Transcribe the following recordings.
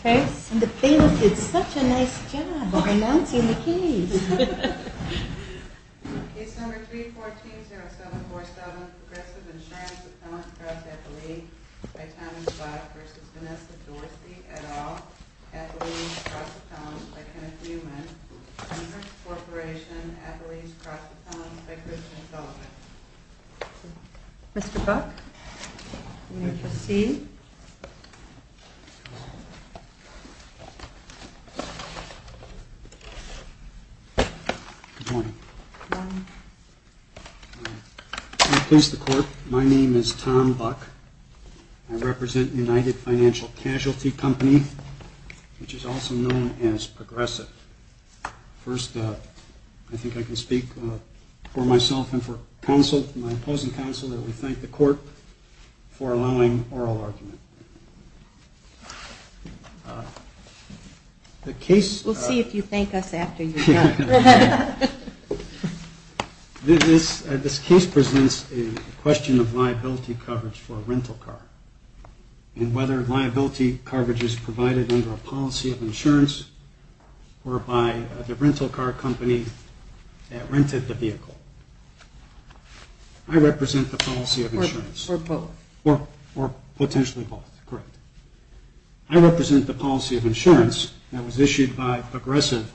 case. And the plaintiff did such a nice job of announcing the case. Case number 314-0747, Progressive Insurance Appellant Cross-Appellee by Thomas Buck v. Vanessa Dorsey, et al., Appellees Cross-Appellants by Kenneth Newman, Corporation, Appellees Cross-Appellants by Christian Phillips. Mr. Buck, you may proceed. Good morning. Good morning. I replace the clerk. My name is Tom Buck. I represent United Financial Casualty Company, which is also known as Progressive. First, I think I can speak for myself and for counsel, my opposing counsel, that we thank the court for allowing oral argument. We'll see if you thank us after you're done. This case presents a question of liability coverage for a rental car and whether liability coverage is provided under a policy of insurance or by the rental car company that rented the vehicle. I represent the policy of insurance. Or both. Or potentially both. Correct. I represent the policy of insurance that was issued by Progressive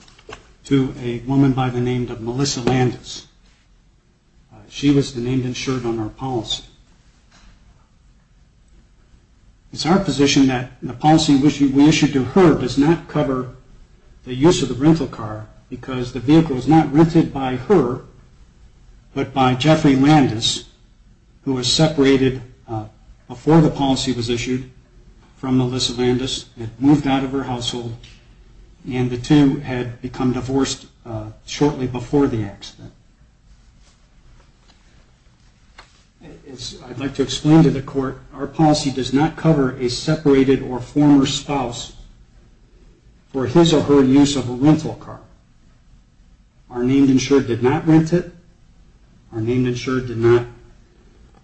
to a woman by the name of Melissa Landis. She was the named insured on our policy. It's our position that the policy we issued to her does not cover the use of the rental car because the vehicle was not rented by her, but by Jeffrey Landis, who was separated before the policy was issued. Our policy does not cover a separated or former spouse for his or her use of a rental car. Our named insured did not rent it. Our named insured did not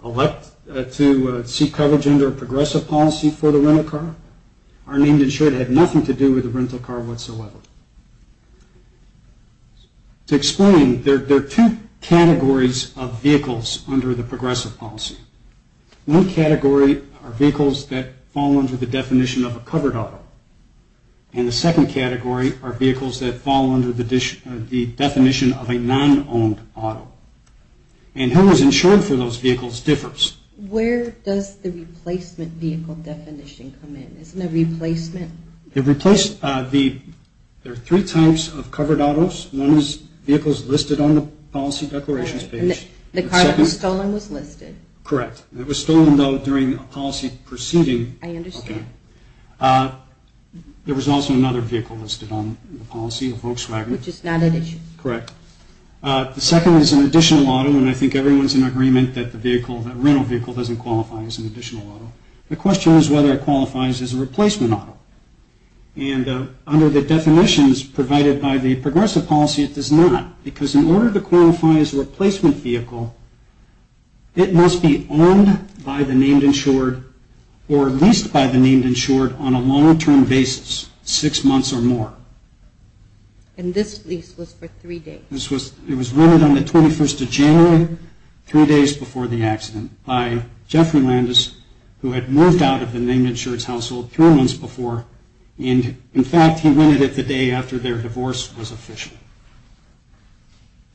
elect to seek coverage under a Progressive policy. Our named insured had nothing to do with the rental car whatsoever. To explain, there are two categories of vehicles under the Progressive policy. One category are vehicles that fall under the definition of a covered auto and the second category are vehicles that fall under the definition of a non-owned auto. And who is insured for those vehicles differs. Where does the replacement vehicle definition come in? Isn't it replacement? There are three types of covered autos. One is vehicles listed on the policy declarations page. The car that was stolen was listed. Correct. It was stolen though during a policy proceeding. I understand. There was also another vehicle listed on the policy, a Volkswagen. Which is not an issue. Correct. The second is an additional auto and I think everyone is in agreement that the rental vehicle doesn't qualify as an additional auto. The question is whether it qualifies as a replacement auto. And under the definitions provided by the Progressive policy, it does not. Because in order to qualify as a replacement vehicle, it must be owned by the named insured or leased by the named insured on a long-term basis, six months or more. And this lease was for three days. It was rented on the 21st of January, three days before the accident by Jeffrey Landis, who had moved out of the named insured's household three months before. And in fact, he rented it the day after their divorce was official.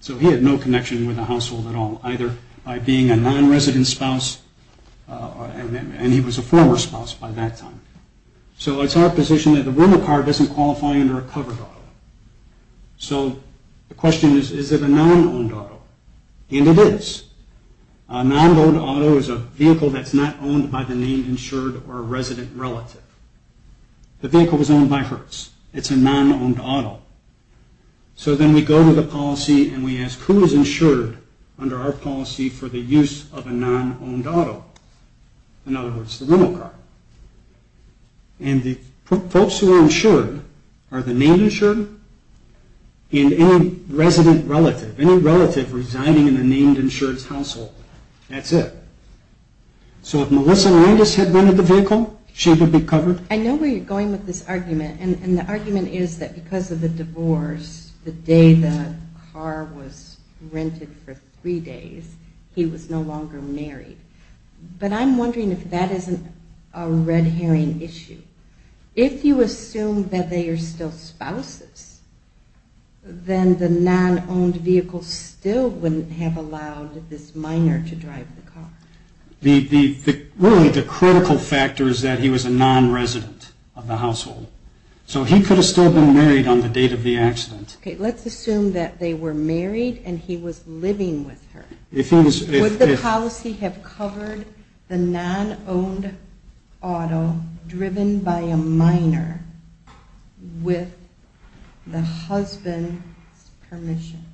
So he had no connection with the household at all, either by being a non-resident spouse, and he was a former spouse by that time. So it's our position that the rental car doesn't qualify under a covered auto. So the question is, is it a non-owned auto? And it is. A non-owned auto is a vehicle that's not owned by the named insured or resident relative. The vehicle was owned by Hertz. It's a non-owned auto. So then we go to the policy and we ask, who is insured under our policy for the use of a non-owned auto? In other words, the rental car. And the folks who are insured are the named insured and any resident relative, any relative residing in the named insured's household. That's it. So if Melissa Landis had rented the vehicle, she would be covered? I know where you're going with this argument, and the argument is that because of the divorce, the day the car was rented for three days, he was no longer married. But I'm wondering if that isn't a red herring issue. If you assume that they are still spouses, then the non-owned vehicle still wouldn't have allowed this minor to drive the car. Really, the critical factor is that he was a non-resident of the household. So he could have still been married on the date of the accident. Okay, let's assume that they were married and he was living with her. Would the policy have covered the non-owned auto driven by a minor with the husband's permission?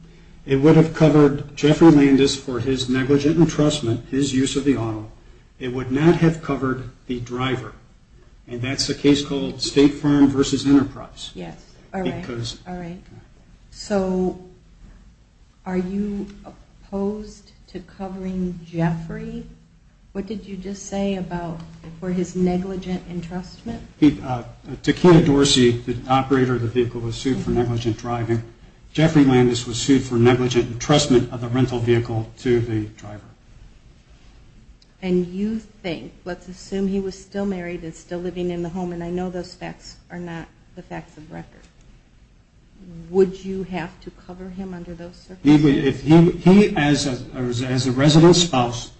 It would have covered Jeffrey Landis for his negligent entrustment, his use of the auto. It would not have covered the driver. And that's a case called State Farm versus Enterprise. Yes, all right, all right. So are you opposed to covering Jeffrey? What did you just say about for his negligent entrustment? Takena Dorsey, the operator of the vehicle, was sued for negligent driving. Jeffrey Landis was sued for negligent entrustment of the rental vehicle to the driver. And you think, let's assume he was still married and still living in the home, and I know those facts are not the facts of record. Would you have to cover him under those circumstances? He, as a resident spouse,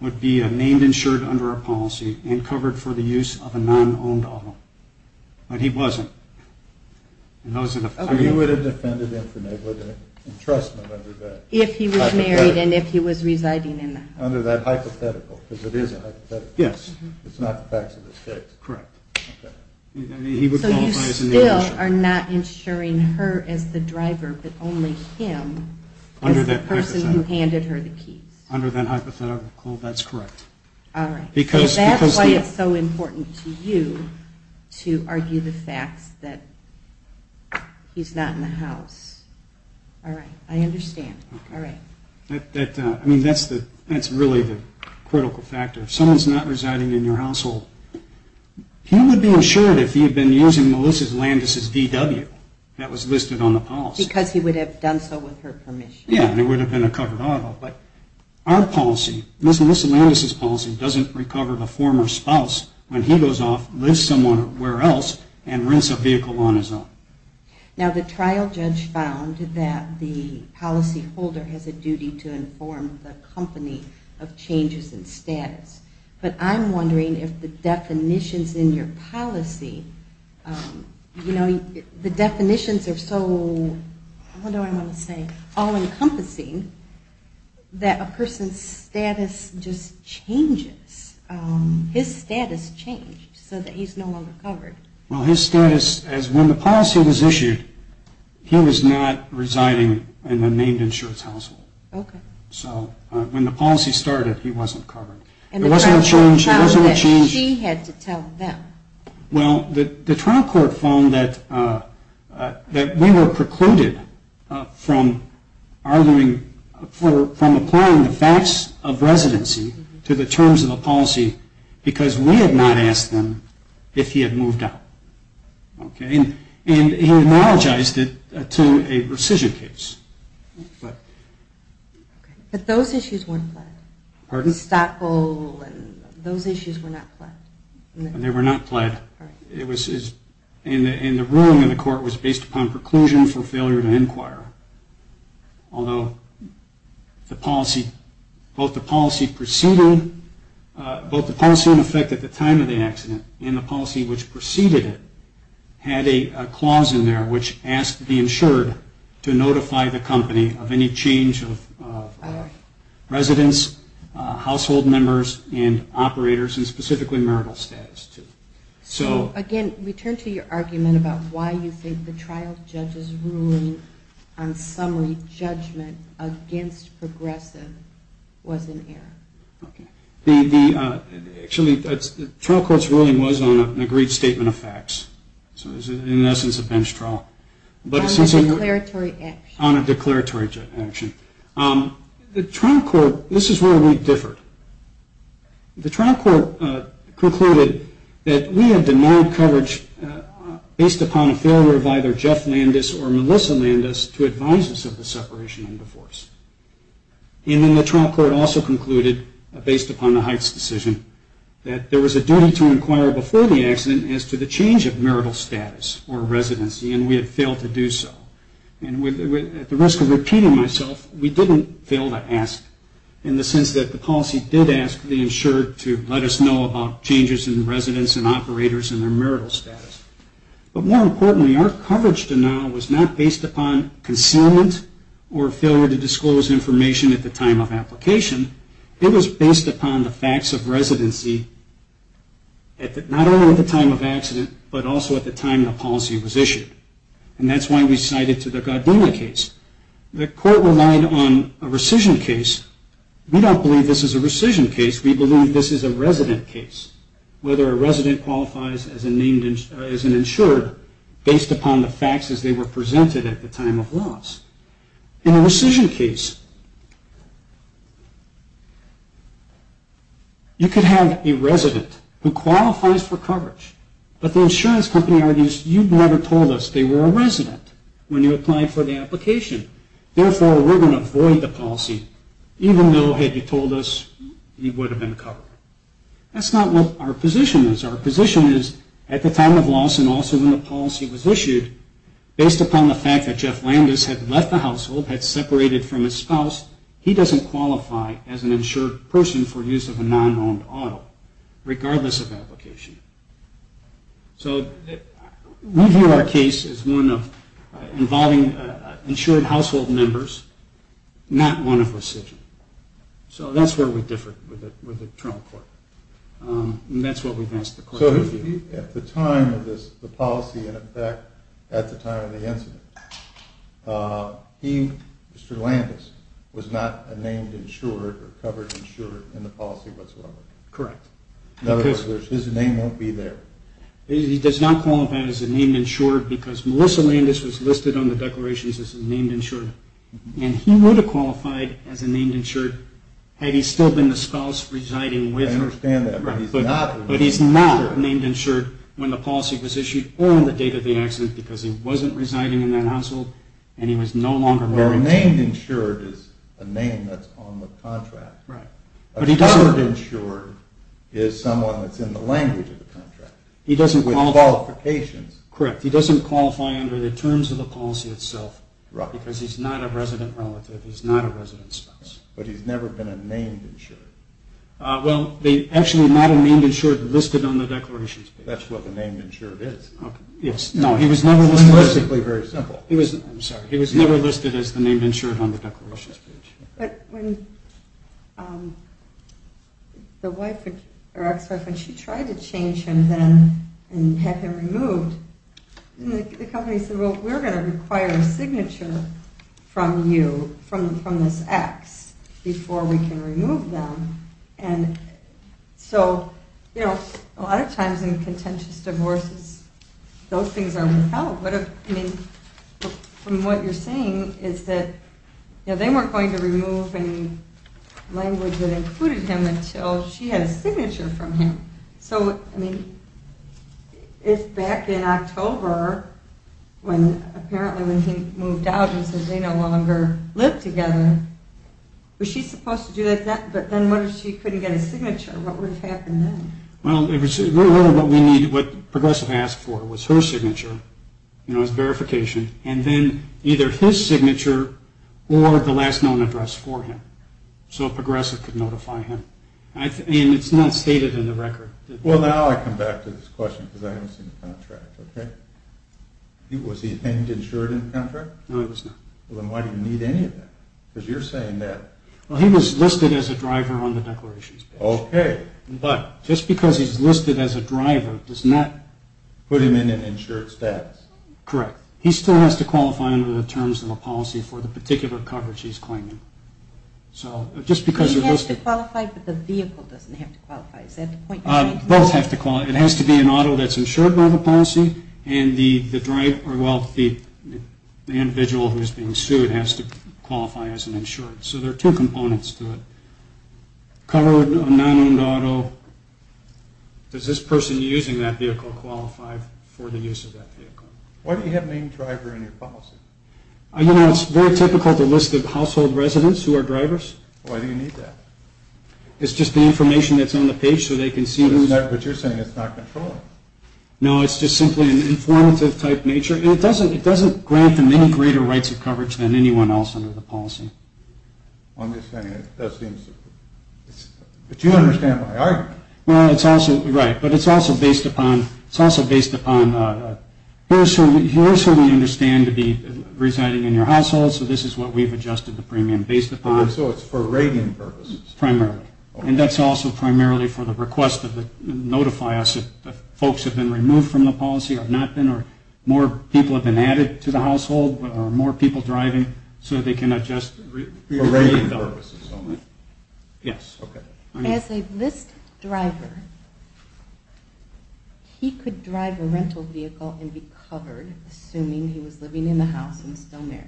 would be named and insured under our policy and covered for the use of a non-owned auto. But he wasn't. So he would have defended him for negligent entrustment under that? If he was married and if he was residing in the house. Under that hypothetical, because it is a hypothetical. Yes. It's not the facts of this case. Correct. So you still are not insuring her as the driver, but only him as the person who handed her the keys? Under that hypothetical, that's correct. All right. Because that's why it's so important to you to argue the facts that he's not in the house. All right, I understand. I mean, that's really the critical factor. If someone's not residing in your household, he would be insured if he had been using Melissa Landis' VW. That was listed on the policy. Because he would have done so with her permission. Yeah, and it would have been a covered auto. But our policy, Melissa Landis' policy, doesn't recover the former spouse when he goes off, leaves someone where else, and rents a vehicle on his own. Now, the trial judge found that the policyholder has a duty to inform the company of changes in status. But I'm wondering if the definitions in your policy, you know, the definitions are so, what do I want to say, all-encompassing, that a person's status just changes. His status changed so that he's no longer covered. Well, his status, as when the policy was issued, he was not residing in a named insurance household. Okay. So when the policy started, he wasn't covered. And the trial court found that she had to tell them. Okay. And he analogized it to a rescission case. But those issues weren't pled. Pardon? Stockpile and those issues were not pled. They were not pled. All right. And the ruling in the court was based upon preclusion for failure to inquire. Although the policy, both the policy preceding, both the policy in effect at the time of the accident and the policy which preceded it had a clause in there which asked to be insured to notify the company of any change of residents, household members, and operators, and specifically marital status. So again, return to your argument about why you think the trial judge's ruling on summary judgment against progressive was in error. Okay. Actually, the trial court's ruling was on an agreed statement of facts. So it was, in essence, a bench trial. On a declaratory action. On a declaratory action. The trial court, this is where we differed. The trial court concluded that we had denied coverage based upon a failure of either Jeff Landis or Melissa Landis to advise us of the separation and divorce. And then the trial court also concluded, based upon the Heights decision, that there was a duty to inquire before the accident as to the change of marital status or residency, and we had failed to do so. And at the risk of repeating myself, we didn't fail to ask in the sense that the policy did ask to be insured to let us know about changes in residents and operators and their marital status. But more importantly, our coverage denial was not based upon concealment or failure to disclose information at the time of application. It was based upon the facts of residency, not only at the time of accident, but also at the time the policy was issued. And that's why we cited to the Godwina case. The court relied on a rescission case. We don't believe this is a rescission case. We believe this is a resident case, whether a resident qualifies as an insured based upon the facts as they were presented at the time of loss. In a rescission case, you could have a resident who qualifies for coverage, but the insurance company argues you never told us they were a resident when you applied for the application. Therefore, we're going to avoid the policy, even though had you told us, you would have been covered. That's not what our position is. Our position is at the time of loss and also when the policy was issued, based upon the fact that Jeff Landis had left the household, had separated from his spouse, he doesn't qualify as an insured person for use of a non-owned auto, regardless of application. So we view our case as one involving insured household members, not one of rescission. So that's where we differ with the trial court. And that's what we've asked the court to review. At the time of the policy and in fact at the time of the incident, Mr. Landis was not a named insured or covered insured in the policy whatsoever. Correct. In other words, his name won't be there. He does not qualify as a named insured because Melissa Landis was listed on the declarations as a named insured. And he would have qualified as a named insured had he still been the spouse residing with her. I understand that. But he's not a named insured when the policy was issued on the date of the accident because he wasn't residing in that household and he was no longer married. Well, a named insured is a name that's on the contract. A covered insured is someone that's in the language of the contract with qualifications. Correct. He doesn't qualify under the terms of the policy itself because he's not a resident relative. He's not a resident spouse. But he's never been a named insured. Well, actually not a named insured listed on the declarations page. That's what the named insured is. Yes. No, he was never listed. It's linguistically very simple. I'm sorry. He was never listed as the named insured on the declarations page. But when the wife, or ex-wife, when she tried to change him then and have him removed, the company said, well, we're going to require a signature from you, from this ex, before we can remove them. And so, you know, a lot of times in contentious divorces, those things are without. From what you're saying is that they weren't going to remove any language that included him until she had a signature from him. So, I mean, if back in October, apparently when he moved out and said they no longer lived together, was she supposed to do that then? But then what if she couldn't get a signature? What would have happened then? Well, what Progressive asked for was her signature, you know, his verification, and then either his signature or the last known address for him. So Progressive could notify him. And it's not stated in the record. Well, now I come back to this question because I haven't seen the contract, okay? Was he named insured in the contract? No, he was not. Well, then why do you need any of that? Because you're saying that... Well, he was listed as a driver on the declarations page. Okay. But just because he's listed as a driver does not... Put him in an insured status. Correct. He still has to qualify under the terms of a policy for the particular coverage he's claiming. He has to qualify, but the vehicle doesn't have to qualify. Is that the point you're trying to make? It has to be an auto that's insured by the policy, and the individual who's being sued has to qualify as an insured. So there are two components to it. Covered, a non-owned auto. Does this person using that vehicle qualify for the use of that vehicle? Why do you have named driver in your policy? You know, it's very typical to list the household residents who are drivers. Why do you need that? It's just the information that's on the page so they can see who's... But you're saying it's not controlling. No, it's just simply an informative type nature, and it doesn't grant them any greater rights of coverage than anyone else under the policy. I'm just saying that seems... But you understand my argument. Well, it's also... Right. But it's also based upon... It's also based upon... Here's who we understand to be residing in your household, so this is what we've adjusted the premium based upon. So it's for rating purposes. Primarily. And that's also primarily for the request of the... Notify us if folks have been removed from the policy or have not been, or more people have been added to the household, or more people driving so they can adjust... For rating purposes only. Yes. Okay. As a list driver, he could drive a rental vehicle and be covered, assuming he was living in the house and still married,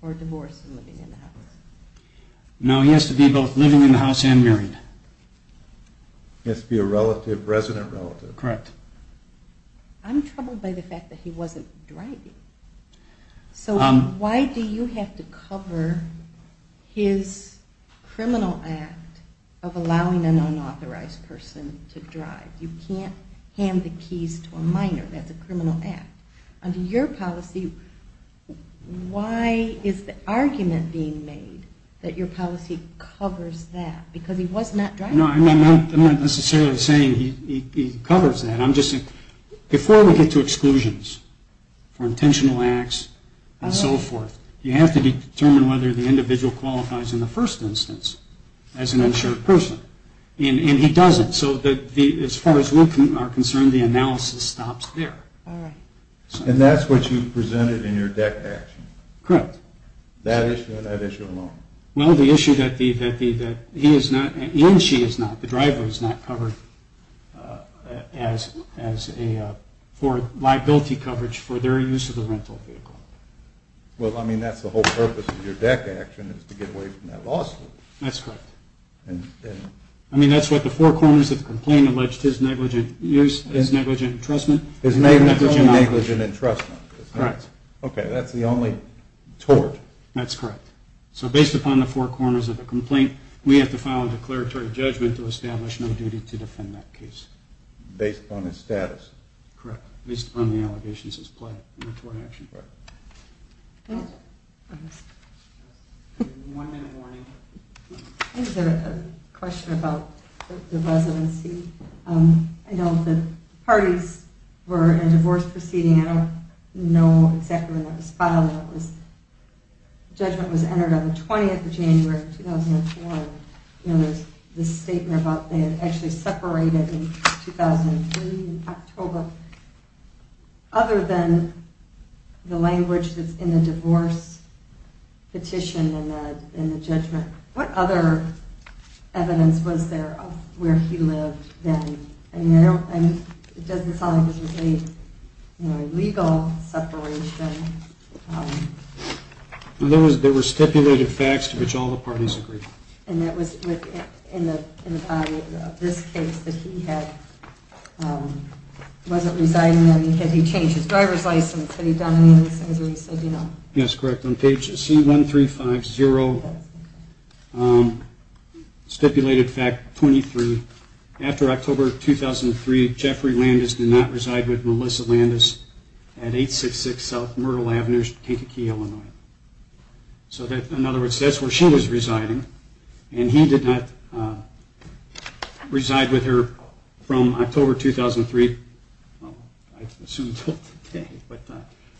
or divorced and living in the house. No, he has to be both living in the house and married. He has to be a resident relative. Correct. I'm troubled by the fact that he wasn't driving. So why do you have to cover his criminal act of allowing an unauthorized person to drive? You can't hand the keys to a minor. That's a criminal act. Under your policy, why is the argument being made that your policy covers that? Because he was not driving. No, I'm not necessarily saying he covers that. Before we get to exclusions for intentional acts and so forth, you have to determine whether the individual qualifies in the first instance as an insured person, and he doesn't. So as far as we are concerned, the analysis stops there. And that's what you presented in your deck action? Correct. That issue and that issue alone? Well, the issue that he and she is not, the driver is not covered for liability coverage for their use of the rental vehicle. Well, I mean, that's the whole purpose of your deck action, is to get away from that law school. That's correct. I mean, that's what the four corners of the complaint alleged, his negligent use, his negligent entrustment. His only negligent entrustment. Correct. Okay, that's the only tort. That's correct. So based upon the four corners of the complaint, we have to file a declaratory judgment to establish no duty to defend that case. Based upon his status. Correct. Based upon the allegations as plied in the tort action part. One minute warning. I just had a question about the residency. I know the parties were in a divorce proceeding. I don't know exactly when that was filed. Judgment was entered on the 20th of January, 2004. There's this statement about they had actually separated in 2003 in October. Other than the language that's in the divorce petition and the judgment, what other evidence was there of where he lived then? It doesn't sound like there was any legal separation. There were stipulated facts to which all the parties agreed. And that was in the body of this case that he had. He wasn't residing there. He changed his driver's license. Had he done any of these things, or he said, you know. Yes, correct. On page C1350, stipulated fact 23. After October 2003, Jeffrey Landis did not reside with Melissa Landis at 866 South Myrtle Avenue, Kankakee, Illinois. So, in other words, that's where she was residing. And he did not reside with her from October 2003. I assume until today, but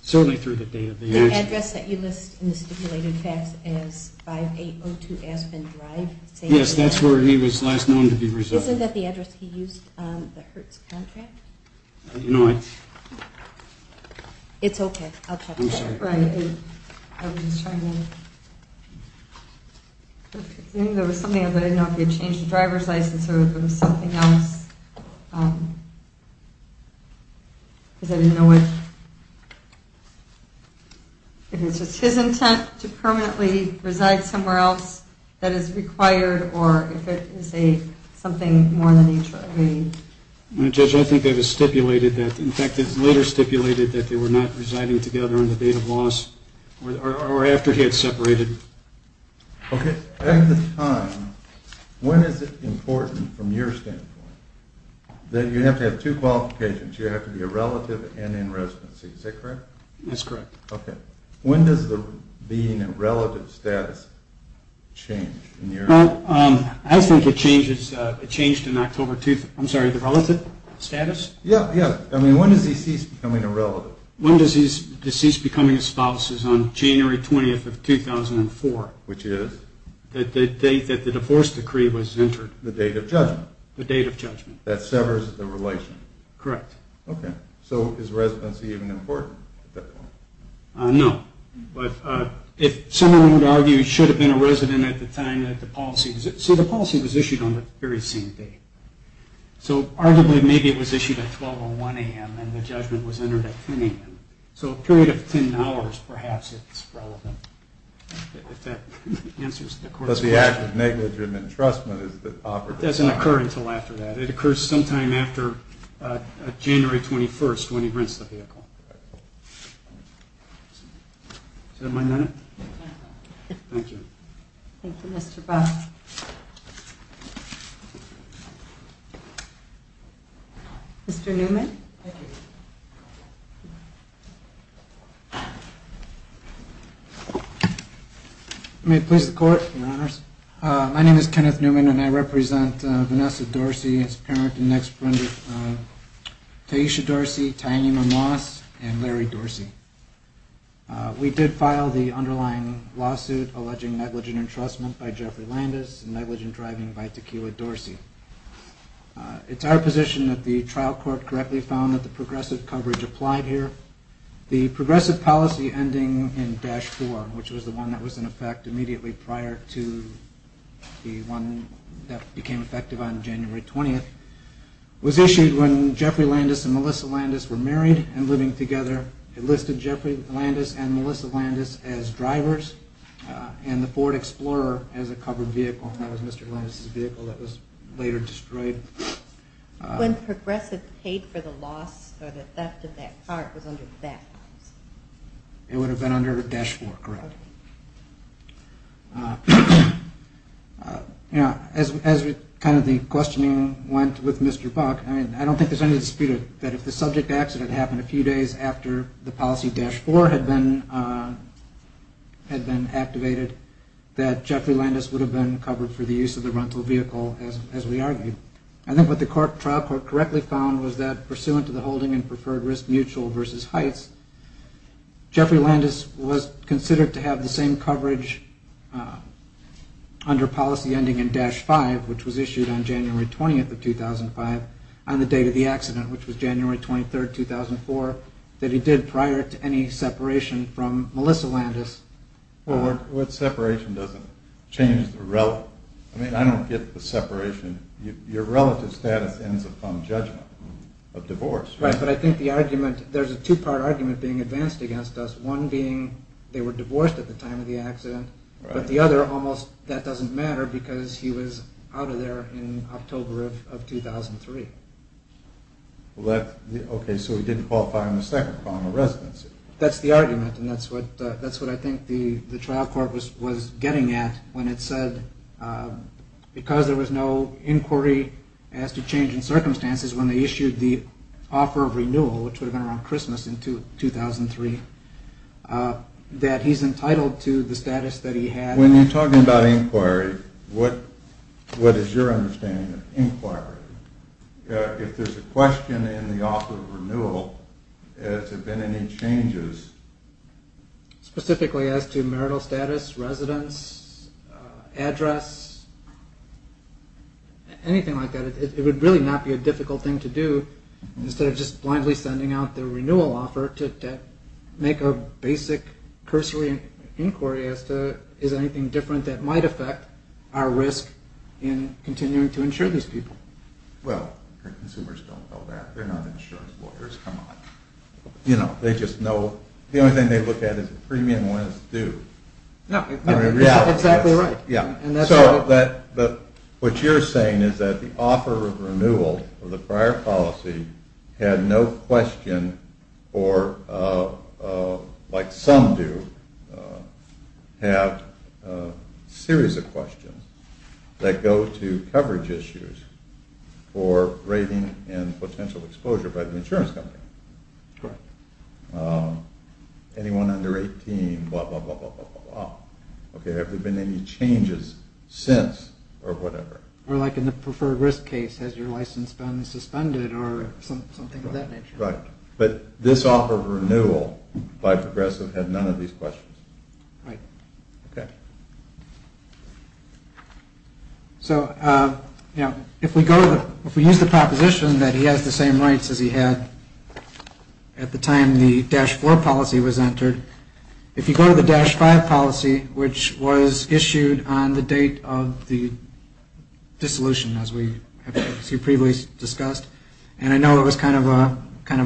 certainly through the day of the accident. The address that you list in the stipulated facts is 5802 Aspen Drive. Yes, that's where he was last known to be residing. Isn't that the address he used on the Hertz contract? No. It's okay. I'm sorry. Right. I was just trying to. There was something I didn't know if he had changed the driver's license or if it was something else. Because I didn't know if it was just his intent to permanently reside somewhere else that is required, or if it is something more in the nature of a. Judge, I think that is stipulated. In fact, it's later stipulated that they were not residing together on the date of loss or after he had separated. Okay. At the time, when is it important from your standpoint that you have to have two qualifications? You have to be a relative and in residency. Is that correct? That's correct. Okay. When does the being a relative status change? I think it changed in October 2003. I'm sorry, the relative status? Yeah, yeah. I mean, when does he cease becoming a relative? When does he cease becoming a spouse is on January 20th of 2004. Which is? The date that the divorce decree was entered. The date of judgment. The date of judgment. That severs the relation. Correct. Okay. So is residency even important at that point? No. But if someone would argue he should have been a resident at the time that the policy was issued. See, the policy was issued on the very same day. So arguably, maybe it was issued at 12 or 1 a.m. and the judgment was entered at 10 a.m. So a period of 10 hours, perhaps, is relevant. If that answers the court's question. Because the act of negligent entrustment is the operative time. It doesn't occur until after that. It occurs sometime after January 21st when he rents the vehicle. Okay. Is that my minute? Okay. Thank you. Thank you, Mr. Buff. Mr. Newman. Thank you. May it please the court. Your Honors. My name is Kenneth Newman and I represent Vanessa Dorsey and her parent and next granddaughter, Taisha Dorsey, Tainima Moss, and Larry Dorsey. We did file the underlying lawsuit alleging negligent entrustment by Jeffrey Landis and negligent driving by Tequila Dorsey. It's our position that the trial court correctly found that the progressive coverage applied here. The progressive policy ending in Dash 4, which was the one that was in effect immediately prior to the one that became effective on January 20th, was issued when Jeffrey Landis and Melissa Landis were married and living together. It listed Jeffrey Landis and Melissa Landis as drivers and the Ford Explorer as a covered vehicle. That was Mr. Landis' vehicle that was later destroyed. When progressive paid for the loss or the theft of that car, it was under that house? It would have been under Dash 4, correct. Okay. As kind of the questioning went with Mr. Buck, I don't think there's any dispute that if the subject accident happened a few days after the policy Dash 4 had been activated that Jeffrey Landis would have been covered for the use of the rental vehicle as we argued. I think what the trial court correctly found was that pursuant to the holding and preferred risk mutual versus heights, Jeffrey Landis was considered to have the same coverage under policy ending in Dash 5, which was issued on January 20th of 2005, on the date of the accident, which was January 23rd, 2004, that he did prior to any separation from Melissa Landis. Well, what separation doesn't change the relative? I don't get the separation. Your relative status ends upon judgment of divorce. Right, but I think the argument, there's a two-part argument being advanced against us, one being they were divorced at the time of the accident, but the other almost that doesn't matter because he was out of there in October of 2003. Okay, so he didn't qualify on the second form of residency. That's the argument, and that's what I think the trial court was getting at when it said because there was no inquiry as to change in circumstances when they issued the offer of renewal, which would have been around Christmas in 2003, that he's entitled to the status that he had. When you're talking about inquiry, what is your understanding of inquiry? If there's a question in the offer of renewal, has there been any changes? Specifically as to marital status, residence, address, anything like that, it would really not be a difficult thing to do instead of just blindly sending out the renewal offer to make a basic cursory inquiry as to is there anything different that might affect our risk in continuing to insure these people. Well, consumers don't know that. They're not insurance lawyers, come on. You know, they just know, the only thing they look at is premium when it's due. Exactly right. What you're saying is that the offer of renewal for the prior policy had no question or like some do have a series of questions that go to coverage issues for rating and potential exposure by the insurance company. Correct. Anyone under 18, blah, blah, blah. Have there been any changes since or whatever? Or like in the preferred risk case, has your license been suspended or something of that nature. Right. But this offer of renewal by Progressive had none of these questions. Right. Okay. So, you know, if we go to, if we use the proposition that he has the same rights as he had at the time the Dash 4 policy was entered, if you go to the Dash 5 policy, which was issued on the date of the dissolution, as we previously discussed, and I know it was kind of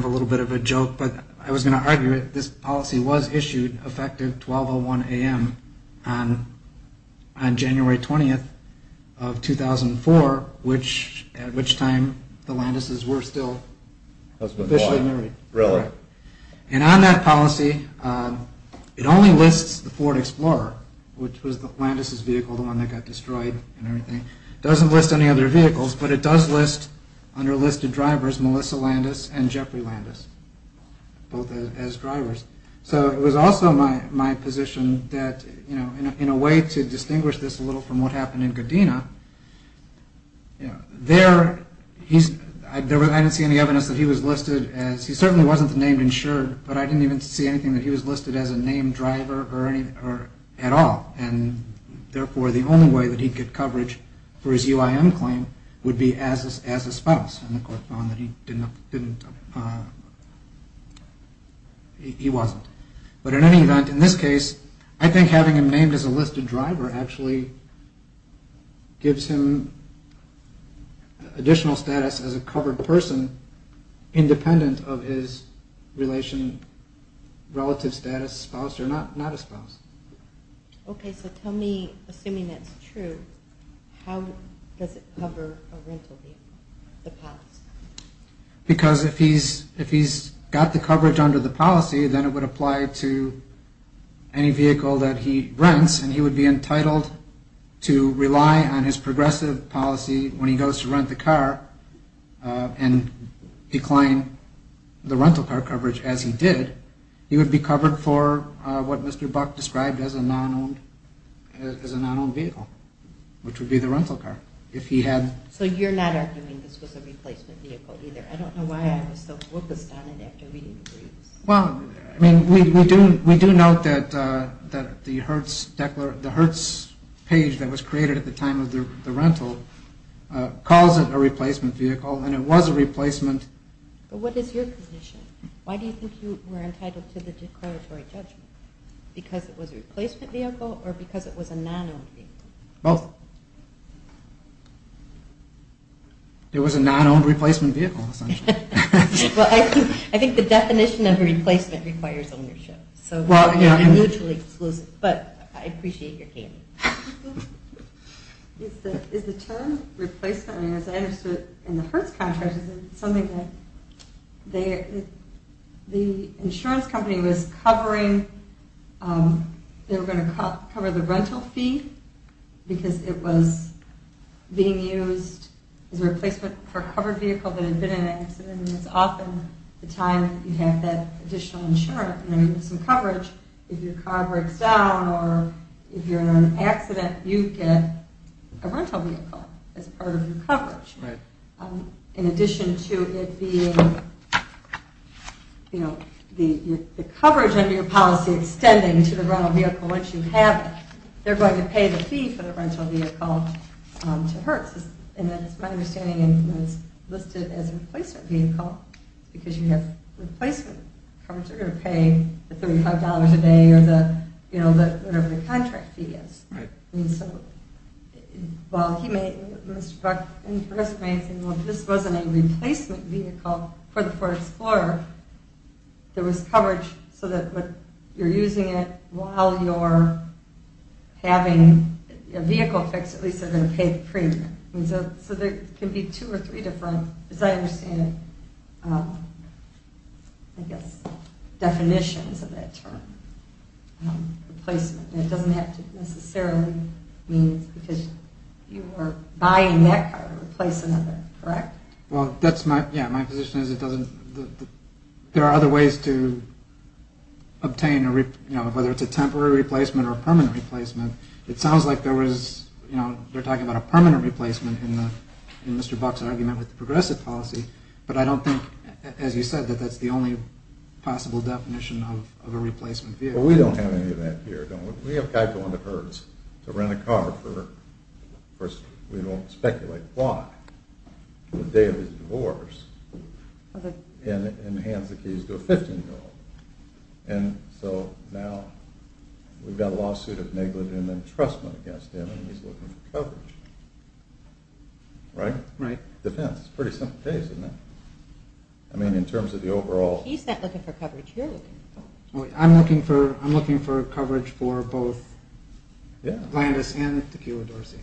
a little bit of a joke, but I was going to argue that this policy was issued effective 1201 a.m. on January 20th of 2004, at which time the Landeses were still officially married. Really? And on that policy, it only lists the Ford Explorer, which was the Landeses vehicle, the one that got destroyed and everything. It doesn't list any other vehicles, but it does list, under listed drivers, Melissa Landes and Jeffrey Landes, both as drivers. So it was also my position that, you know, in a way to distinguish this a little from what happened in Godina, you know, there, he's, I didn't see any evidence that he was listed as, he certainly wasn't named insured, but I didn't even see anything that he was listed as a named driver or anything, or at all. And therefore, the only way that he could get coverage for his UIM claim would be as a spouse, and the court found that he didn't, he wasn't. But in any event, in this case, I think having him named as a listed driver actually gives him additional status as a covered person, independent of his relation, relative status, spouse, or not a spouse. Okay, so tell me, assuming that's true, how does it cover a rental vehicle, the pass? Because if he's, if he's got the coverage under the policy, then it would apply to any vehicle that he rents, and he would be entitled to rely on his progressive policy when he goes to rent the car and decline the rental car coverage as he did. He would be covered for what Mr. Buck described as a non-owned vehicle, which would be the rental car. So you're not arguing this was a replacement vehicle either? I don't know why I was so focused on it after reading the briefs. Well, I mean, we do note that the Hertz page that was created at the time of the rental calls it a replacement vehicle, and it was a replacement. But what is your position? Why do you think you were entitled to the declaratory judgment? Because it was a replacement vehicle or because it was a non-owned vehicle? Both. It was a non-owned replacement vehicle, essentially. Well, I think the definition of a replacement requires ownership, so you're mutually exclusive, but I appreciate your gaming. The term replacement, as I understood it in the Hertz contract, is something that the insurance company was covering. They were going to cover the rental fee because it was being used as a replacement for a covered vehicle that had been in an accident. And it's often the time you have that additional insurance and you need some coverage. If your car breaks down or if you're in an accident, you get a rental vehicle as part of your coverage. In addition to it being the coverage under your policy extending to the rental vehicle once you have it, they're going to pay the fee for the rental vehicle to Hertz. And it's my understanding it was listed as a replacement vehicle because you have replacement coverage. They're going to pay the $35 a day or whatever the contract fee is. Mr. Buck and Professor May have said, well, if this wasn't a replacement vehicle for the Ford Explorer, there was coverage so that you're using it while you're having a vehicle fixed, at least they're going to pay the premium. So there can be two or three different, as I understand it, definitions of that term. It doesn't have to necessarily mean because you are buying that car to replace another, correct? Well, that's my, yeah, my position is it doesn't, there are other ways to obtain a, you know, whether it's a temporary replacement or permanent replacement. It sounds like there was, you know, they're talking about a permanent replacement in Mr. Buck's argument with the progressive policy. But I don't think, as you said, that that's the only possible definition of a replacement vehicle. Well, we don't have any of that here, don't we? We have a guy going to Hertz to rent a car for, of course, we don't speculate why, the day of his divorce, and hands the keys to a 15-year-old. And so now we've got a lawsuit of negligent entrustment against him and he's looking for coverage. Right? Right. Depends. It's a pretty simple case, isn't it? I mean, in terms of the overall... He's not looking for coverage, you're looking for coverage. I'm looking for coverage for both Landis and Tequila Dorsey.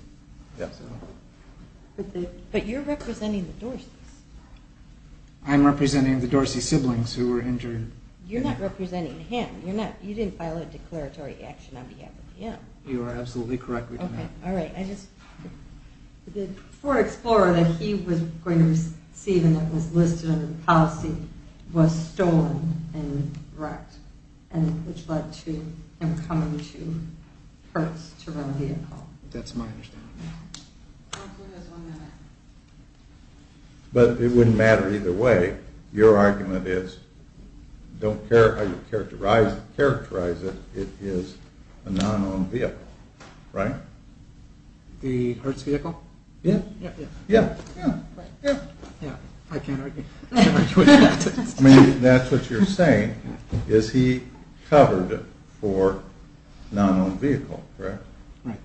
But you're representing the Dorseys. I'm representing the Dorsey siblings who were injured. You're not representing him. You didn't file a declaratory action on behalf of him. You are absolutely correct. The Ford Explorer that he was going to receive and that was listed under the policy was stolen and wrecked, which led to him coming to Hertz to rent a vehicle. That's my understanding. But it wouldn't matter either way. Your argument is, don't characterize it, it is a non-owned vehicle. Right? The Hertz vehicle? Yeah. I can't argue with that. Maybe that's what you're saying, is he covered for non-owned vehicle. Correct? Right.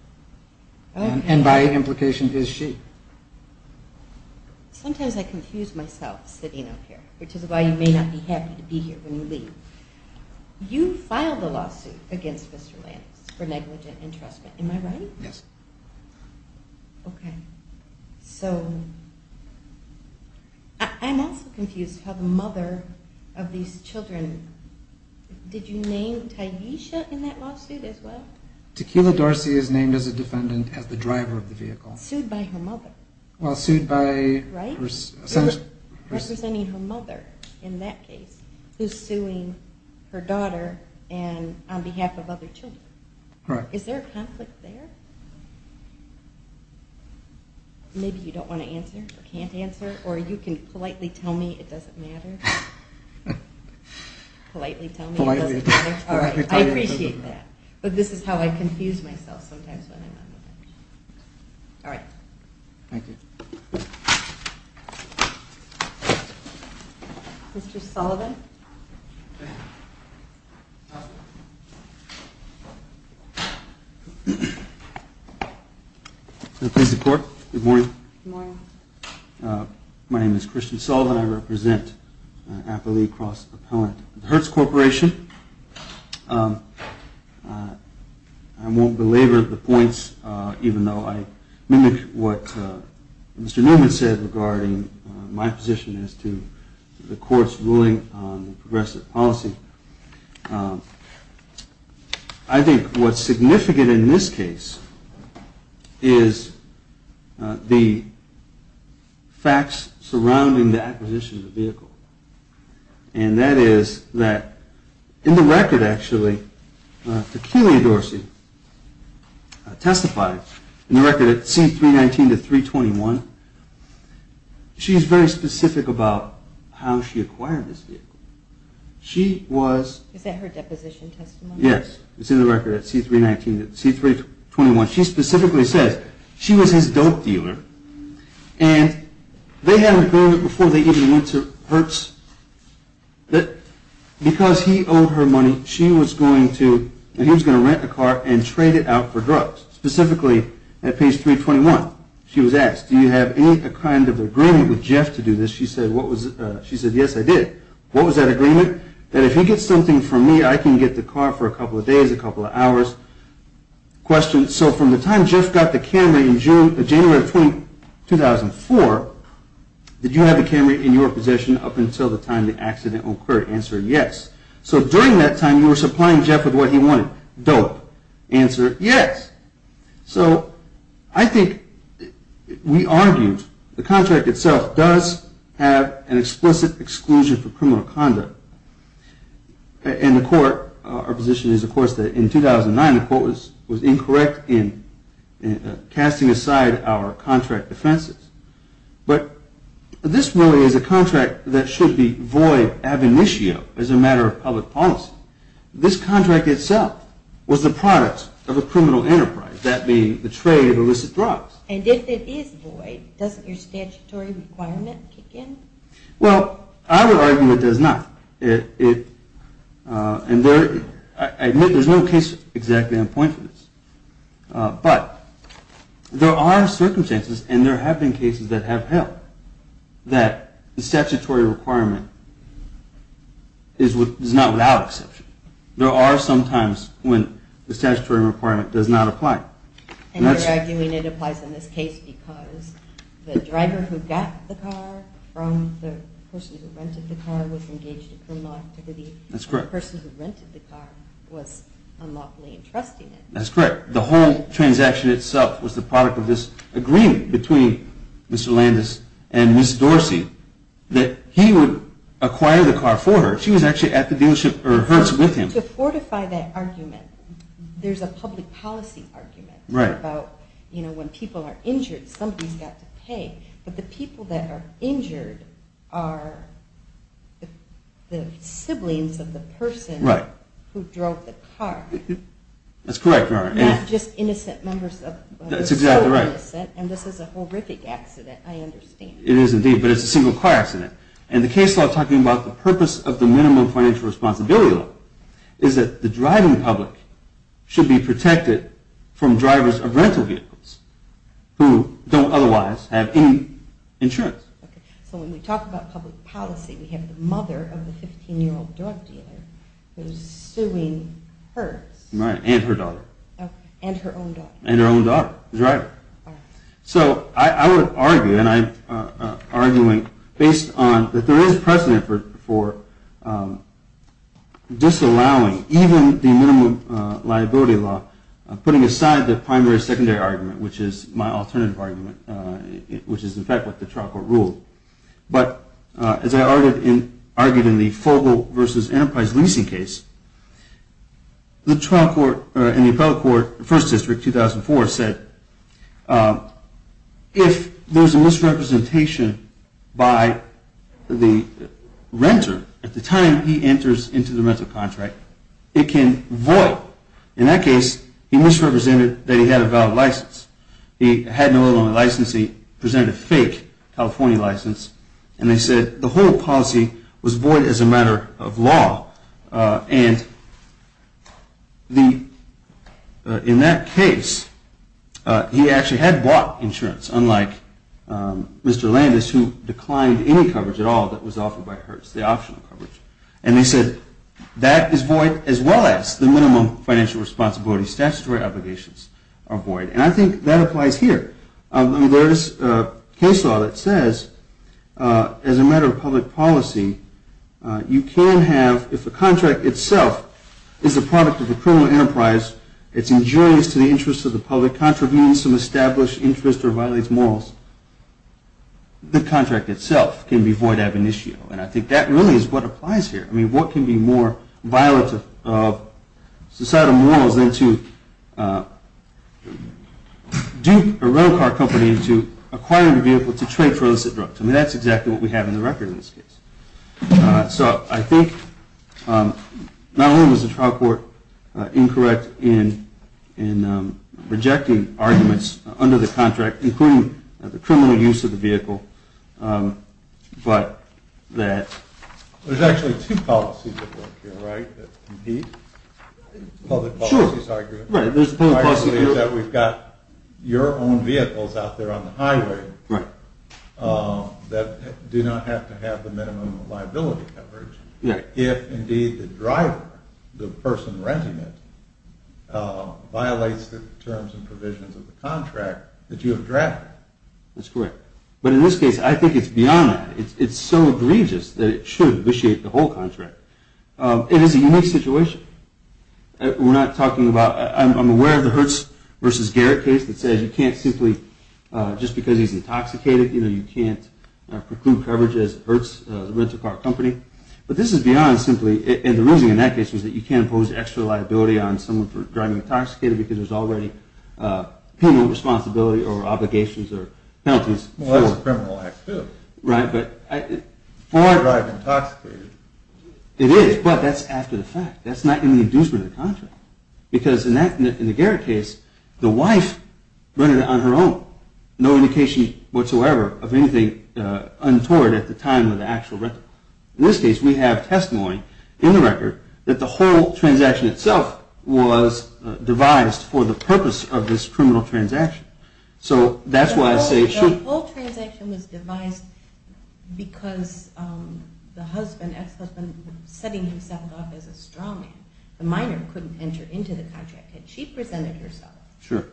And by implication, is she. Sometimes I confuse myself sitting up here, which is why you may not be happy to be here when you leave. You filed a lawsuit against Mr. Landis for negligent entrustment. Am I right? Yes. Okay. So, I'm also confused how the mother of these children... Did you name Tyesha in that lawsuit as well? Tequila Dorsey is named as a defendant as the driver of the vehicle. Sued by her mother. Well, sued by... Right? Representing her mother in that case, who's suing her daughter on behalf of other children. Correct. Is there a conflict there? Maybe you don't want to answer or can't answer or you can politely tell me it doesn't matter. Politely tell me it doesn't matter. All right. I appreciate that. But this is how I confuse myself sometimes when I'm on the bench. All right. Thank you. Mr. Sullivan. Please report. Good morning. Good morning. My name is Christian Sullivan. I represent Appalachian Cross Propellant and Hertz Corporation. I won't belabor the points, even though I mimic what Mr. Newman said regarding my position as to the court's ruling on progressive policy. I think what's significant in this case is the facts surrounding the acquisition of the vehicle. And that is that in the record, actually, Tequila Dorsey testified in the record at C319 to 321. She's very specific about how she acquired this vehicle. She was... Is that her deposition testimony? Yes. It's in the record at C319, C321. She specifically says she was his dope dealer and they had an agreement before they even went to Hertz that because he owed her money, she was going to, he was going to rent a car and trade it out for drugs, specifically at page 321. She was asked, do you have any kind of agreement with Jeff to do this? She said, what was... She said, yes, I did. What was that agreement? That if he gets something from me, I can get the car for a couple of days, a couple of hours. Question, so from the time Jeff got the Camry in June, January of 2004, did you have the Camry in your possession up until the time the accident occurred? Answer, yes. So during that time, you were supplying Jeff with what he wanted. Dope. Answer, yes. So I think we argued the contract itself does have an explicit exclusion for criminal conduct. And the court, our position is of course that in 2009, the court was incorrect in casting aside our contract defenses. But this really is a contract that should be void ab initio as a matter of public policy. This contract itself was the product of a criminal enterprise, that being the trade of illicit drugs. And if it is void, doesn't your statutory requirement kick in? Well, I would argue it does not. And I admit there's no case exactly on point for this. But there are circumstances, and there have been cases that have held, that the statutory requirement is not without exception. There are some times when the statutory requirement does not apply. And you're arguing it applies in this case because the driver who got the car from the person who rented the car was engaged in criminal activity. That's correct. And the person who rented the car was unlawfully entrusting it. That's correct. The whole transaction itself was the product of this agreement between Mr. Landis and Ms. Dorsey that he would acquire the car for her. She was actually at the dealership, or hers, with him. To fortify that argument, there's a public policy argument about when people are injured, somebody's got to pay. But the people that are injured are the siblings of the person who drove the car. That's correct, Your Honor. Not just innocent members of the public. That's exactly right. And this is a horrific accident, I understand. It is indeed, but it's a single car accident. And the case law talking about the purpose of the minimum financial responsibility law is that the driving public should be protected from drivers of rental vehicles who don't otherwise have any insurance. So when we talk about public policy, we have the mother of the 15-year-old drug dealer who is suing her. And her daughter. And her own daughter. And her own daughter, the driver. So I would argue, and I'm arguing based on that there is precedent for disallowing even the minimum liability law, putting aside the primary-secondary argument, which is my alternative argument, which is in fact what the trial court ruled. But as I argued in the Fogel v. Enterprise leasing case, the trial court and the appellate court, First District, 2004, said if there's a misrepresentation by the renter at the time he enters into the rental contract, it can void. In that case, he misrepresented that he had a valid license. He had no other license. He presented a fake California license. And they said the whole policy was void as a matter of law. And in that case, he actually had bought insurance, unlike Mr. Landis, who declined any coverage at all that was offered by Hertz, the optional coverage. And they said that is void as well as the minimum financial responsibility statutory obligations are void. And I think that applies here. There is case law that says as a matter of public policy, you can have, if the contract itself is a product of a criminal enterprise, it's injurious to the interests of the public, contravening some established interest or violates morals, the contract itself can be void ab initio. And I think that really is what applies here. I mean, what can be more violent of societal morals than to dupe a rental car company into acquiring a vehicle to trade for illicit drugs? I mean, that's exactly what we have in the record in this case. So I think not only was the trial court incorrect in rejecting arguments under the contract, including the criminal use of the vehicle, but that… There's actually two policies at work here, right, that compete? Sure. I believe that we've got your own vehicles out there on the highway that do not have to have the minimum liability coverage. If indeed the driver, the person renting it, violates the terms and provisions of the contract that you have drafted. That's correct. But in this case, I think it's beyond that. It's so egregious that it should vitiate the whole contract. It is a unique situation. We're not talking about… I'm aware of the Hertz v. Garrett case that says you can't simply… Just because he's intoxicated, you know, you can't preclude coverage as Hertz, the rental car company. But this is beyond simply… And the reasoning in that case was that you can't impose extra liability on someone for driving intoxicated because there's already penal responsibility or obligations or penalties. Well, that's a criminal act too. Right, but… For driving intoxicated. It is, but that's after the fact. That's not even the inducement of the contract. Because in the Garrett case, the wife rented it on her own. No indication whatsoever of anything untoward at the time of the actual rental. In this case, we have testimony in the record that the whole transaction itself was devised for the purpose of this criminal transaction. So that's why I say it should… The whole transaction was devised because the husband, ex-husband, was setting himself up as a strong man. The minor couldn't enter into the contract. Had she presented herself,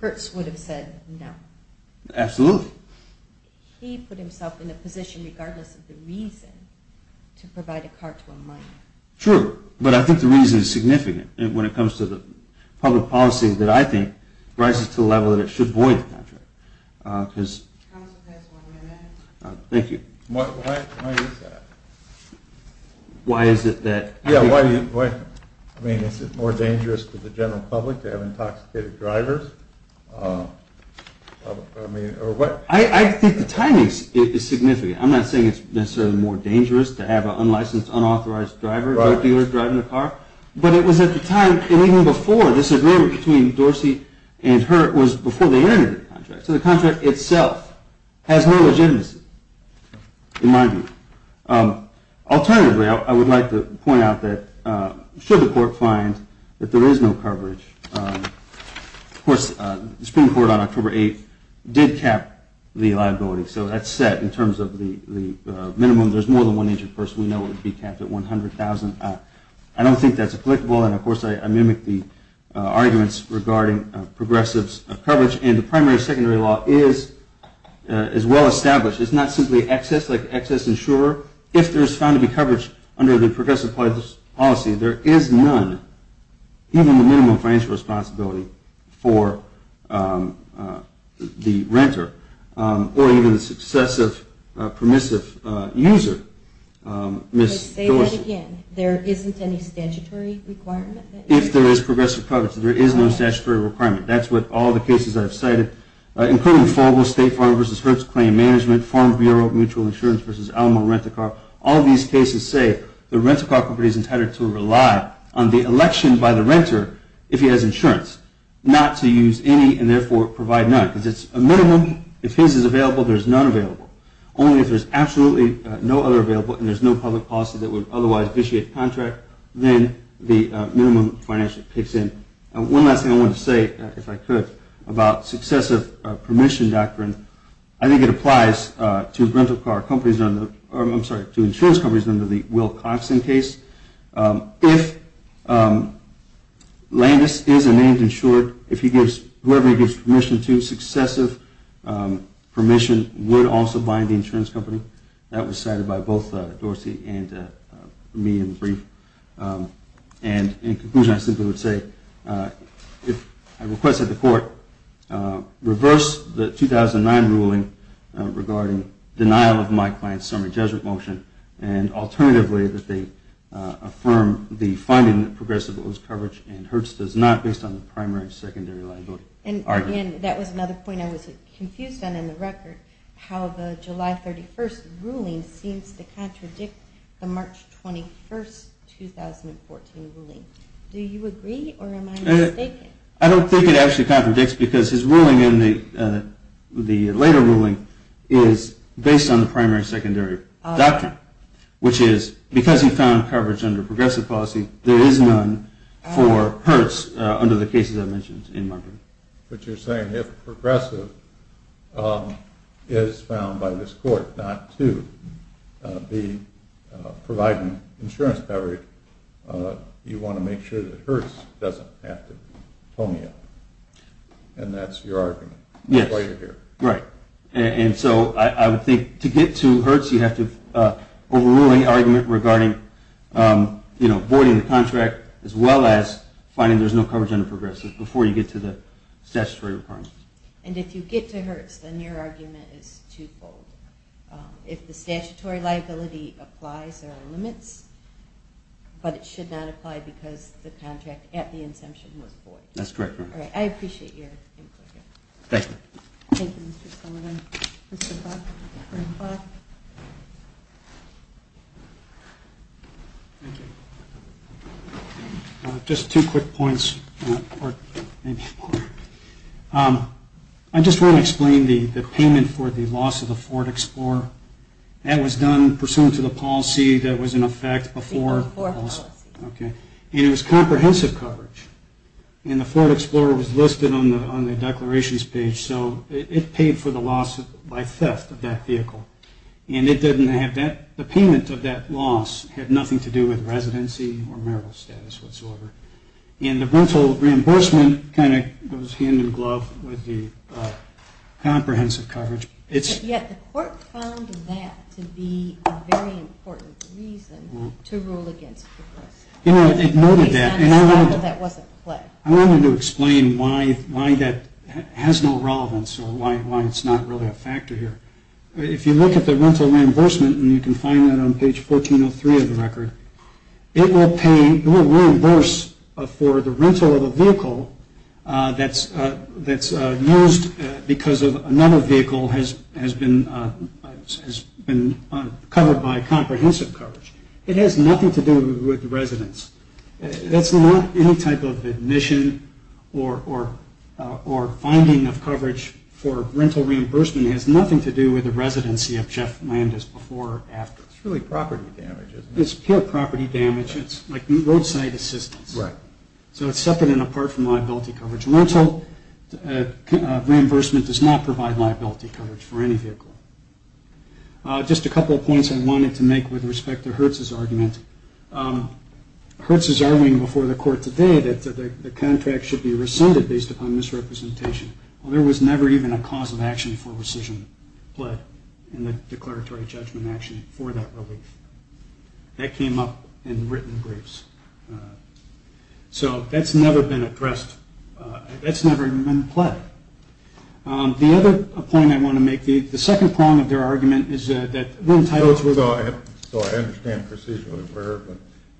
Hertz would have said no. Absolutely. He put himself in a position, regardless of the reason, to provide a car to a minor. True, but I think the reason is significant when it comes to the public policy that I think rises to the level that it should void the contract. Counsel, can I ask one more minute? Thank you. Why is that? Why is it that… I mean, is it more dangerous to the general public to have intoxicated drivers? I think the timing is significant. I'm not saying it's necessarily more dangerous to have an unlicensed, unauthorized driver, drug dealer driving a car. But it was at the time, and even before, this agreement between Dorsey and Hertz was before they entered the contract. So the contract itself has no legitimacy in my view. Alternatively, I would like to point out that should the court find that there is no coverage, of course, the Supreme Court on October 8th did cap the liability. So that's set in terms of the minimum. There's more than one injured person. We know it would be capped at $100,000. I don't think that's applicable. And, of course, I mimic the arguments regarding progressives' coverage. And the primary and secondary law is well established. It's not simply excess, like excess insurer. If there is found to be coverage under the progressive policy, there is none, even the minimum financial responsibility for the renter or even the successive permissive user, Ms. Dorsey. Say that again. There isn't any statutory requirement? If there is progressive coverage, there is no statutory requirement. That's what all the cases I've cited, including FOBO, State Farm v. Hertz Claim Management, Farm Bureau Mutual Insurance v. Alma Rent-a-Car. All these cases say the rent-a-car company is entitled to rely on the election by the renter if he has insurance, not to use any and, therefore, provide none. Because it's a minimum. If his is available, there is none available. Only if there is absolutely no other available and there is no public policy that would otherwise vitiate the contract, then the minimum financial picks in. One last thing I wanted to say, if I could, about successive permission doctrine. I think it applies to insurance companies under the Wilcoxon case. If Landis is a named insured, if he gives, whoever he gives permission to, successive permission would also bind the insurance company. That was cited by both Dorsey and me in the brief. And in conclusion, I simply would say, if I request that the court reverse the 2009 ruling regarding denial of my client's summary judgment motion and alternatively that they affirm the finding that progressive owes coverage and hurts does not based on the primary and secondary liability argument. And that was another point I was confused on in the record, how the July 31st ruling seems to contradict the March 21st 2014 ruling. Do you agree or am I mistaken? I don't think it actually contradicts because his ruling in the later ruling is based on the primary and secondary doctrine. Which is, because he found coverage under progressive policy, there is none for hurts under the cases I mentioned in my brief. But you're saying if progressive is found by this court not to be providing insurance coverage, you want to make sure that hurts doesn't have to be. And that's your argument. Right. And so I would think to get to hurts, you have to overrule any argument regarding voiding the contract as well as finding there is no coverage under progressive before you get to the statutory requirements. And if you get to hurts, then your argument is twofold. If the statutory liability applies, there are limits, but it should not apply because the contract at the inception was void. That's correct. I appreciate your input here. Thank you. Thank you, Mr. Sullivan. Mr. Buck. Thank you. Just two quick points. I just want to explain the payment for the loss of the Ford Explorer. That was done pursuant to the policy that was in effect before the policy. And it was comprehensive coverage. And the Ford Explorer was listed on the declarations page, so it paid for the loss by theft of that vehicle. And the payment of that loss had nothing to do with residency or marital status whatsoever. And the rental reimbursement kind of goes hand in glove with the comprehensive coverage. Yet the court found that to be a very important reason to rule against progressive. It noted that. I wanted to explain why that has no relevance or why it's not really a factor here. If you look at the rental reimbursement, and you can find that on page 1403 of the record, it will reimburse for the rental of a vehicle that's used because another vehicle has been covered by comprehensive coverage. It has nothing to do with residence. That's not any type of admission or finding of coverage for rental reimbursement. It has nothing to do with the residency of Jeff Landis before or after. It's pure property damage. It's like roadside assistance. So it's separate and apart from liability coverage. Rental reimbursement does not provide liability coverage for any vehicle. Just a couple of points I wanted to make with respect to Hertz's argument. Hertz is arguing before the court today that the contract should be rescinded based upon misrepresentation. Well, there was never even a cause of action for rescission pled in the declaratory judgment action for that relief. That came up in written briefs. So that's never been addressed. That's never even been pled. The other point I want to make, the second prong of their argument is that when titles were- So I understand procedurally where, but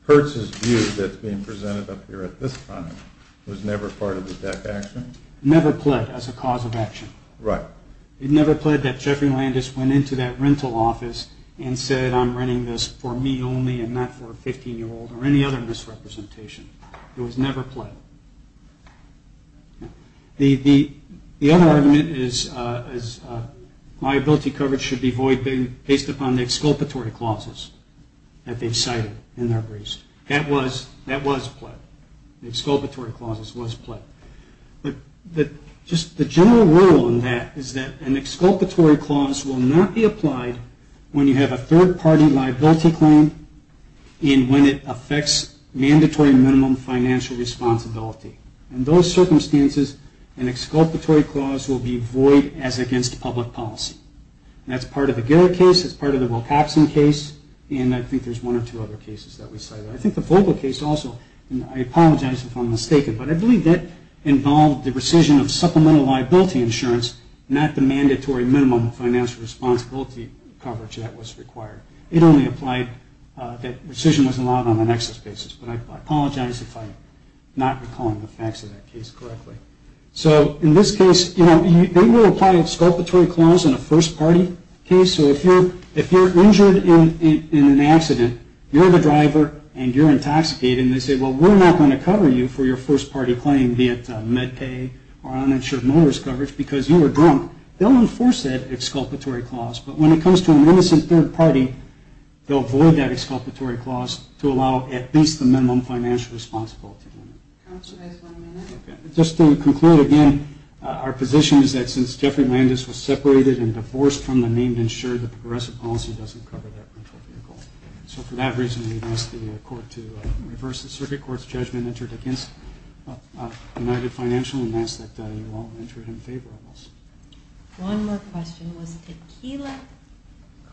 Hertz's view that's being presented up here at this time was never part of the deck action? Never pled as a cause of action. Right. It never pled that Jeffrey Landis went into that rental office and said, I'm renting this for me only and not for a 15-year-old or any other misrepresentation. It was never pled. The other argument is liability coverage should be voided based upon the exculpatory clauses that they've cited in their briefs. That was pled. The exculpatory clauses was pled. But just the general rule on that is that an exculpatory clause will not be applied when you have a third-party liability claim and when it affects mandatory minimum financial responsibility. In those circumstances, an exculpatory clause will be void as against public policy. That's part of the Garrett case. That's part of the Wilcoxon case. And I think there's one or two other cases that we cited. I think the Vogel case also, and I apologize if I'm mistaken, but I believe that involved the rescission of supplemental liability insurance, not the mandatory minimum financial responsibility coverage that was required. It only applied that rescission was allowed on an excess basis. But I apologize if I'm not recalling the facts of that case correctly. So in this case, you know, they will apply an exculpatory clause in a first-party case. So if you're injured in an accident, you're the driver, and you're intoxicated, and they say, well, we're not going to cover you for your first-party claim, be it med pay or uninsured motorist coverage because you were drunk, they'll enforce that exculpatory clause. But when it comes to an innocent third party, they'll void that exculpatory clause to allow at least the minimum financial responsibility. Just to conclude again, our position is that since Jeffrey Landis was separated and divorced from the named insured, the progressive policy doesn't cover that rental vehicle. So for that reason, we've asked the court to reverse the circuit court's judgment entered against United Financial and ask that you all enter it in favor of us. One more question. Was Tequila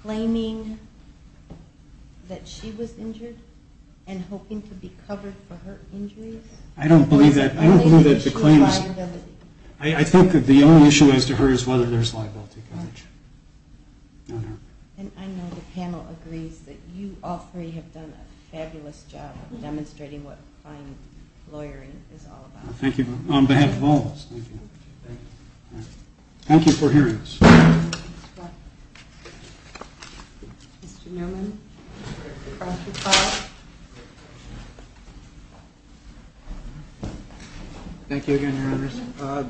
claiming that she was injured and hoping to be covered for her injuries? I don't believe that. I think that the only issue as to her is whether there's liability coverage. And I know the panel agrees that you all three have done a fabulous job of demonstrating what applying lawyering is all about. Thank you. On behalf of all of us, thank you. Thank you for hearing us. Mr. Newman? Thank you again, Your Honors.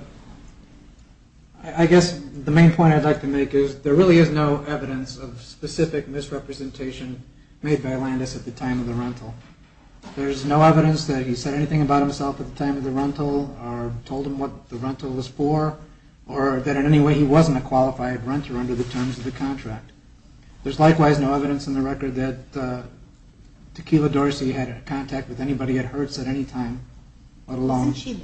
I guess the main point I'd like to make is there really is no evidence of specific misrepresentation made by Landis at the time of the rental. There's no evidence that he said anything about himself at the time of the rental or told him what the rental was for or that in any way he wasn't a qualified renter under the terms of the contract. There's likewise no evidence in the record that Tequila Dorsey had contact with anybody at Hertz at any time, let alone... Wasn't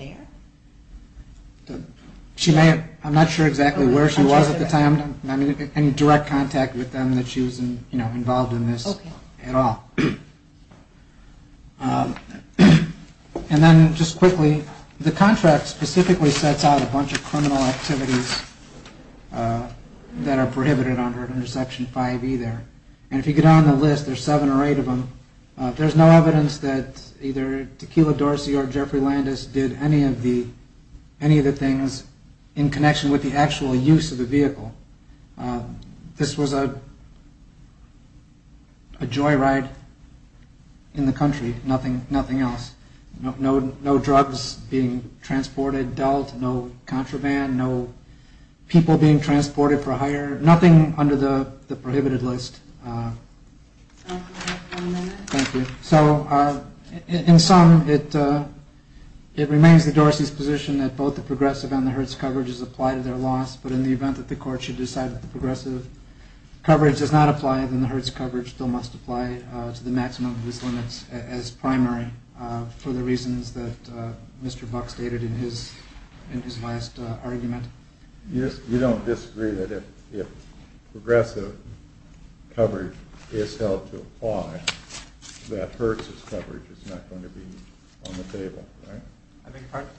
she there? I'm not sure exactly where she was at the time, not any direct contact with them that she was involved in this at all. And then just quickly, the contract specifically sets out a bunch of criminal activities that are prohibited under Section 5E there. And if you get on the list, there's seven or eight of them. There's no evidence that either Tequila Dorsey or Jeffrey Landis did any of the things in connection with the actual use of the vehicle. This was a joyride in the country, nothing else. No drugs being transported, dealt, no contraband, no people being transported for hire, nothing under the prohibited list. One minute. Thank you. So in sum, it remains the Dorseys' position that both the progressive and the Hertz coverages apply to their loss, but in the event that the court should decide that the progressive coverage does not apply, then the Hertz coverage still must apply to the maximum of its limits as primary, for the reasons that Mr. Buck stated in his last argument. You don't disagree that if progressive coverage is held to apply, that Hertz' coverage is not going to be on the table, right? I beg your pardon?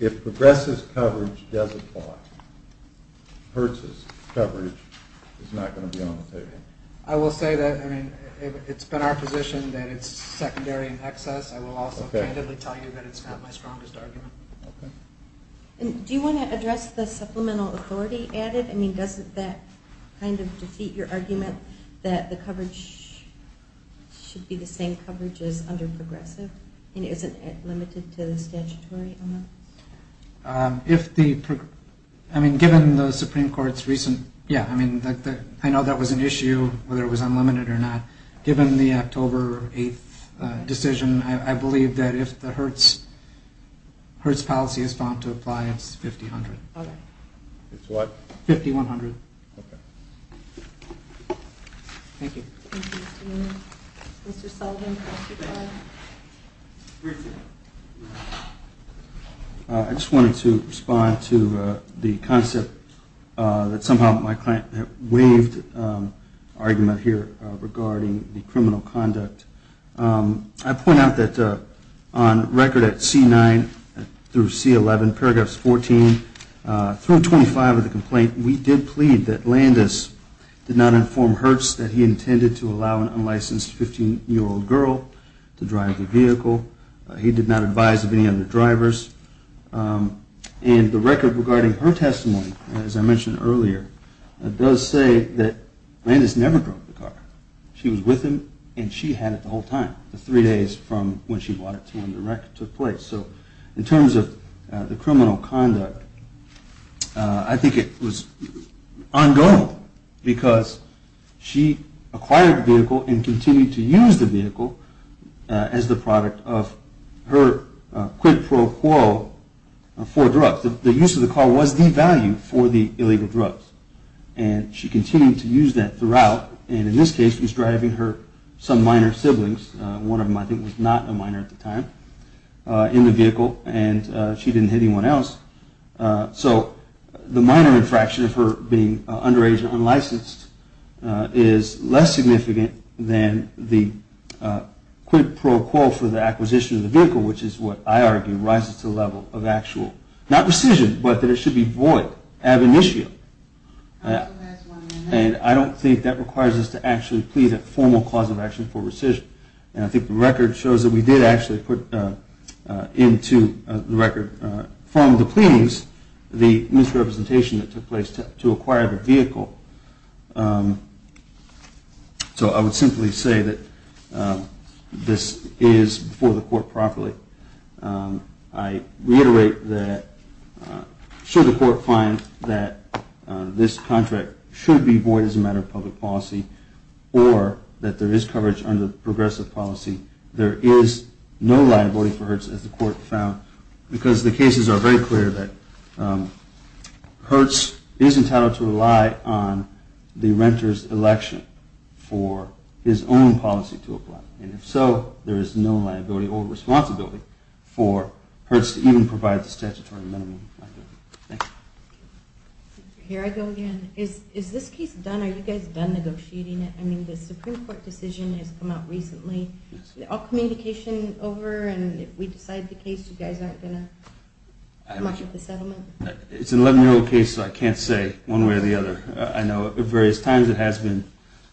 If progressive coverage does apply, Hertz' coverage is not going to be on the table. I will say that it's been our position that it's secondary in excess. I will also candidly tell you that it's not my strongest argument. Okay. Do you want to address the supplemental authority added? I mean, doesn't that kind of defeat your argument that the coverage should be the same coverage as under progressive and isn't it limited to the statutory amendments? I mean, given the Supreme Court's recent, yeah, I mean, I know that was an issue, whether it was unlimited or not. Given the October 8th decision, I believe that if the Hertz policy is found to apply, it's 50-100. All right. It's what? 50-100. Okay. Thank you. Mr. Sullivan. Briefly. I just wanted to respond to the concept that somehow my client waved argument here regarding the criminal conduct. I point out that on record at C-9 through C-11, paragraphs 14 through 25 of the complaint, we did plead that Landis did not inform Hertz that he intended to allow an unlicensed 15-year-old girl to drive the vehicle. He did not advise of any other drivers. And the record regarding her testimony, as I mentioned earlier, does say that Landis never drove the car. She was with him and she had it the whole time, the three days from when she bought it to when the record took place. So in terms of the criminal conduct, I think it was ongoing because she acquired the vehicle and continued to use the vehicle as the product of her quid pro quo for drugs. The use of the car was devalued for the illegal drugs, and she continued to use that throughout. And in this case, she was driving her some minor siblings. One of them I think was not a minor at the time in the vehicle, and she didn't hit anyone else. So the minor infraction of her being underage and unlicensed is less significant than the quid pro quo for the acquisition of the vehicle, which is what I argue rises to the level of actual, not rescission, but that it should be void, ab initio. And I don't think that requires us to actually plead a formal cause of action for rescission. And I think the record shows that we did actually put into the record from the pleadings the misrepresentation that took place to acquire the vehicle. So I would simply say that this is before the court properly. I reiterate that should the court find that this contract should be void as a matter of public policy, or that there is coverage under progressive policy, there is no liability for Hertz, as the court found, because the cases are very clear that Hertz is entitled to rely on the renter's election for his own policy to apply. And if so, there is no liability or responsibility for Hertz to even provide the statutory minimum liability. Thank you. Here I go again. Is this case done? Are you guys done negotiating it? I mean, the Supreme Court decision has come out recently. All communication over, and if we decide the case, you guys aren't going to come up with a settlement? It's an 11-year-old case, so I can't say one way or the other. I know at various times it has been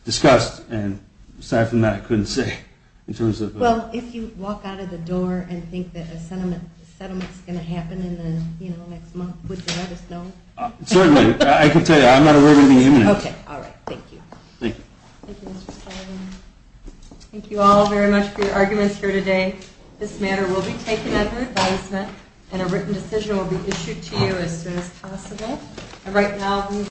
discussed, and aside from that, I couldn't say. Well, if you walk out of the door and think that a settlement is going to happen in the next month, would you let us know? Certainly. I can tell you. I'm not aware of anything imminent. Okay. All right. Thank you. Thank you. Thank you, Mr. Spalding. Thank you all very much for your arguments here today. This matter will be taken under advisement, and a written decision will be issued to you as soon as possible. And right now, these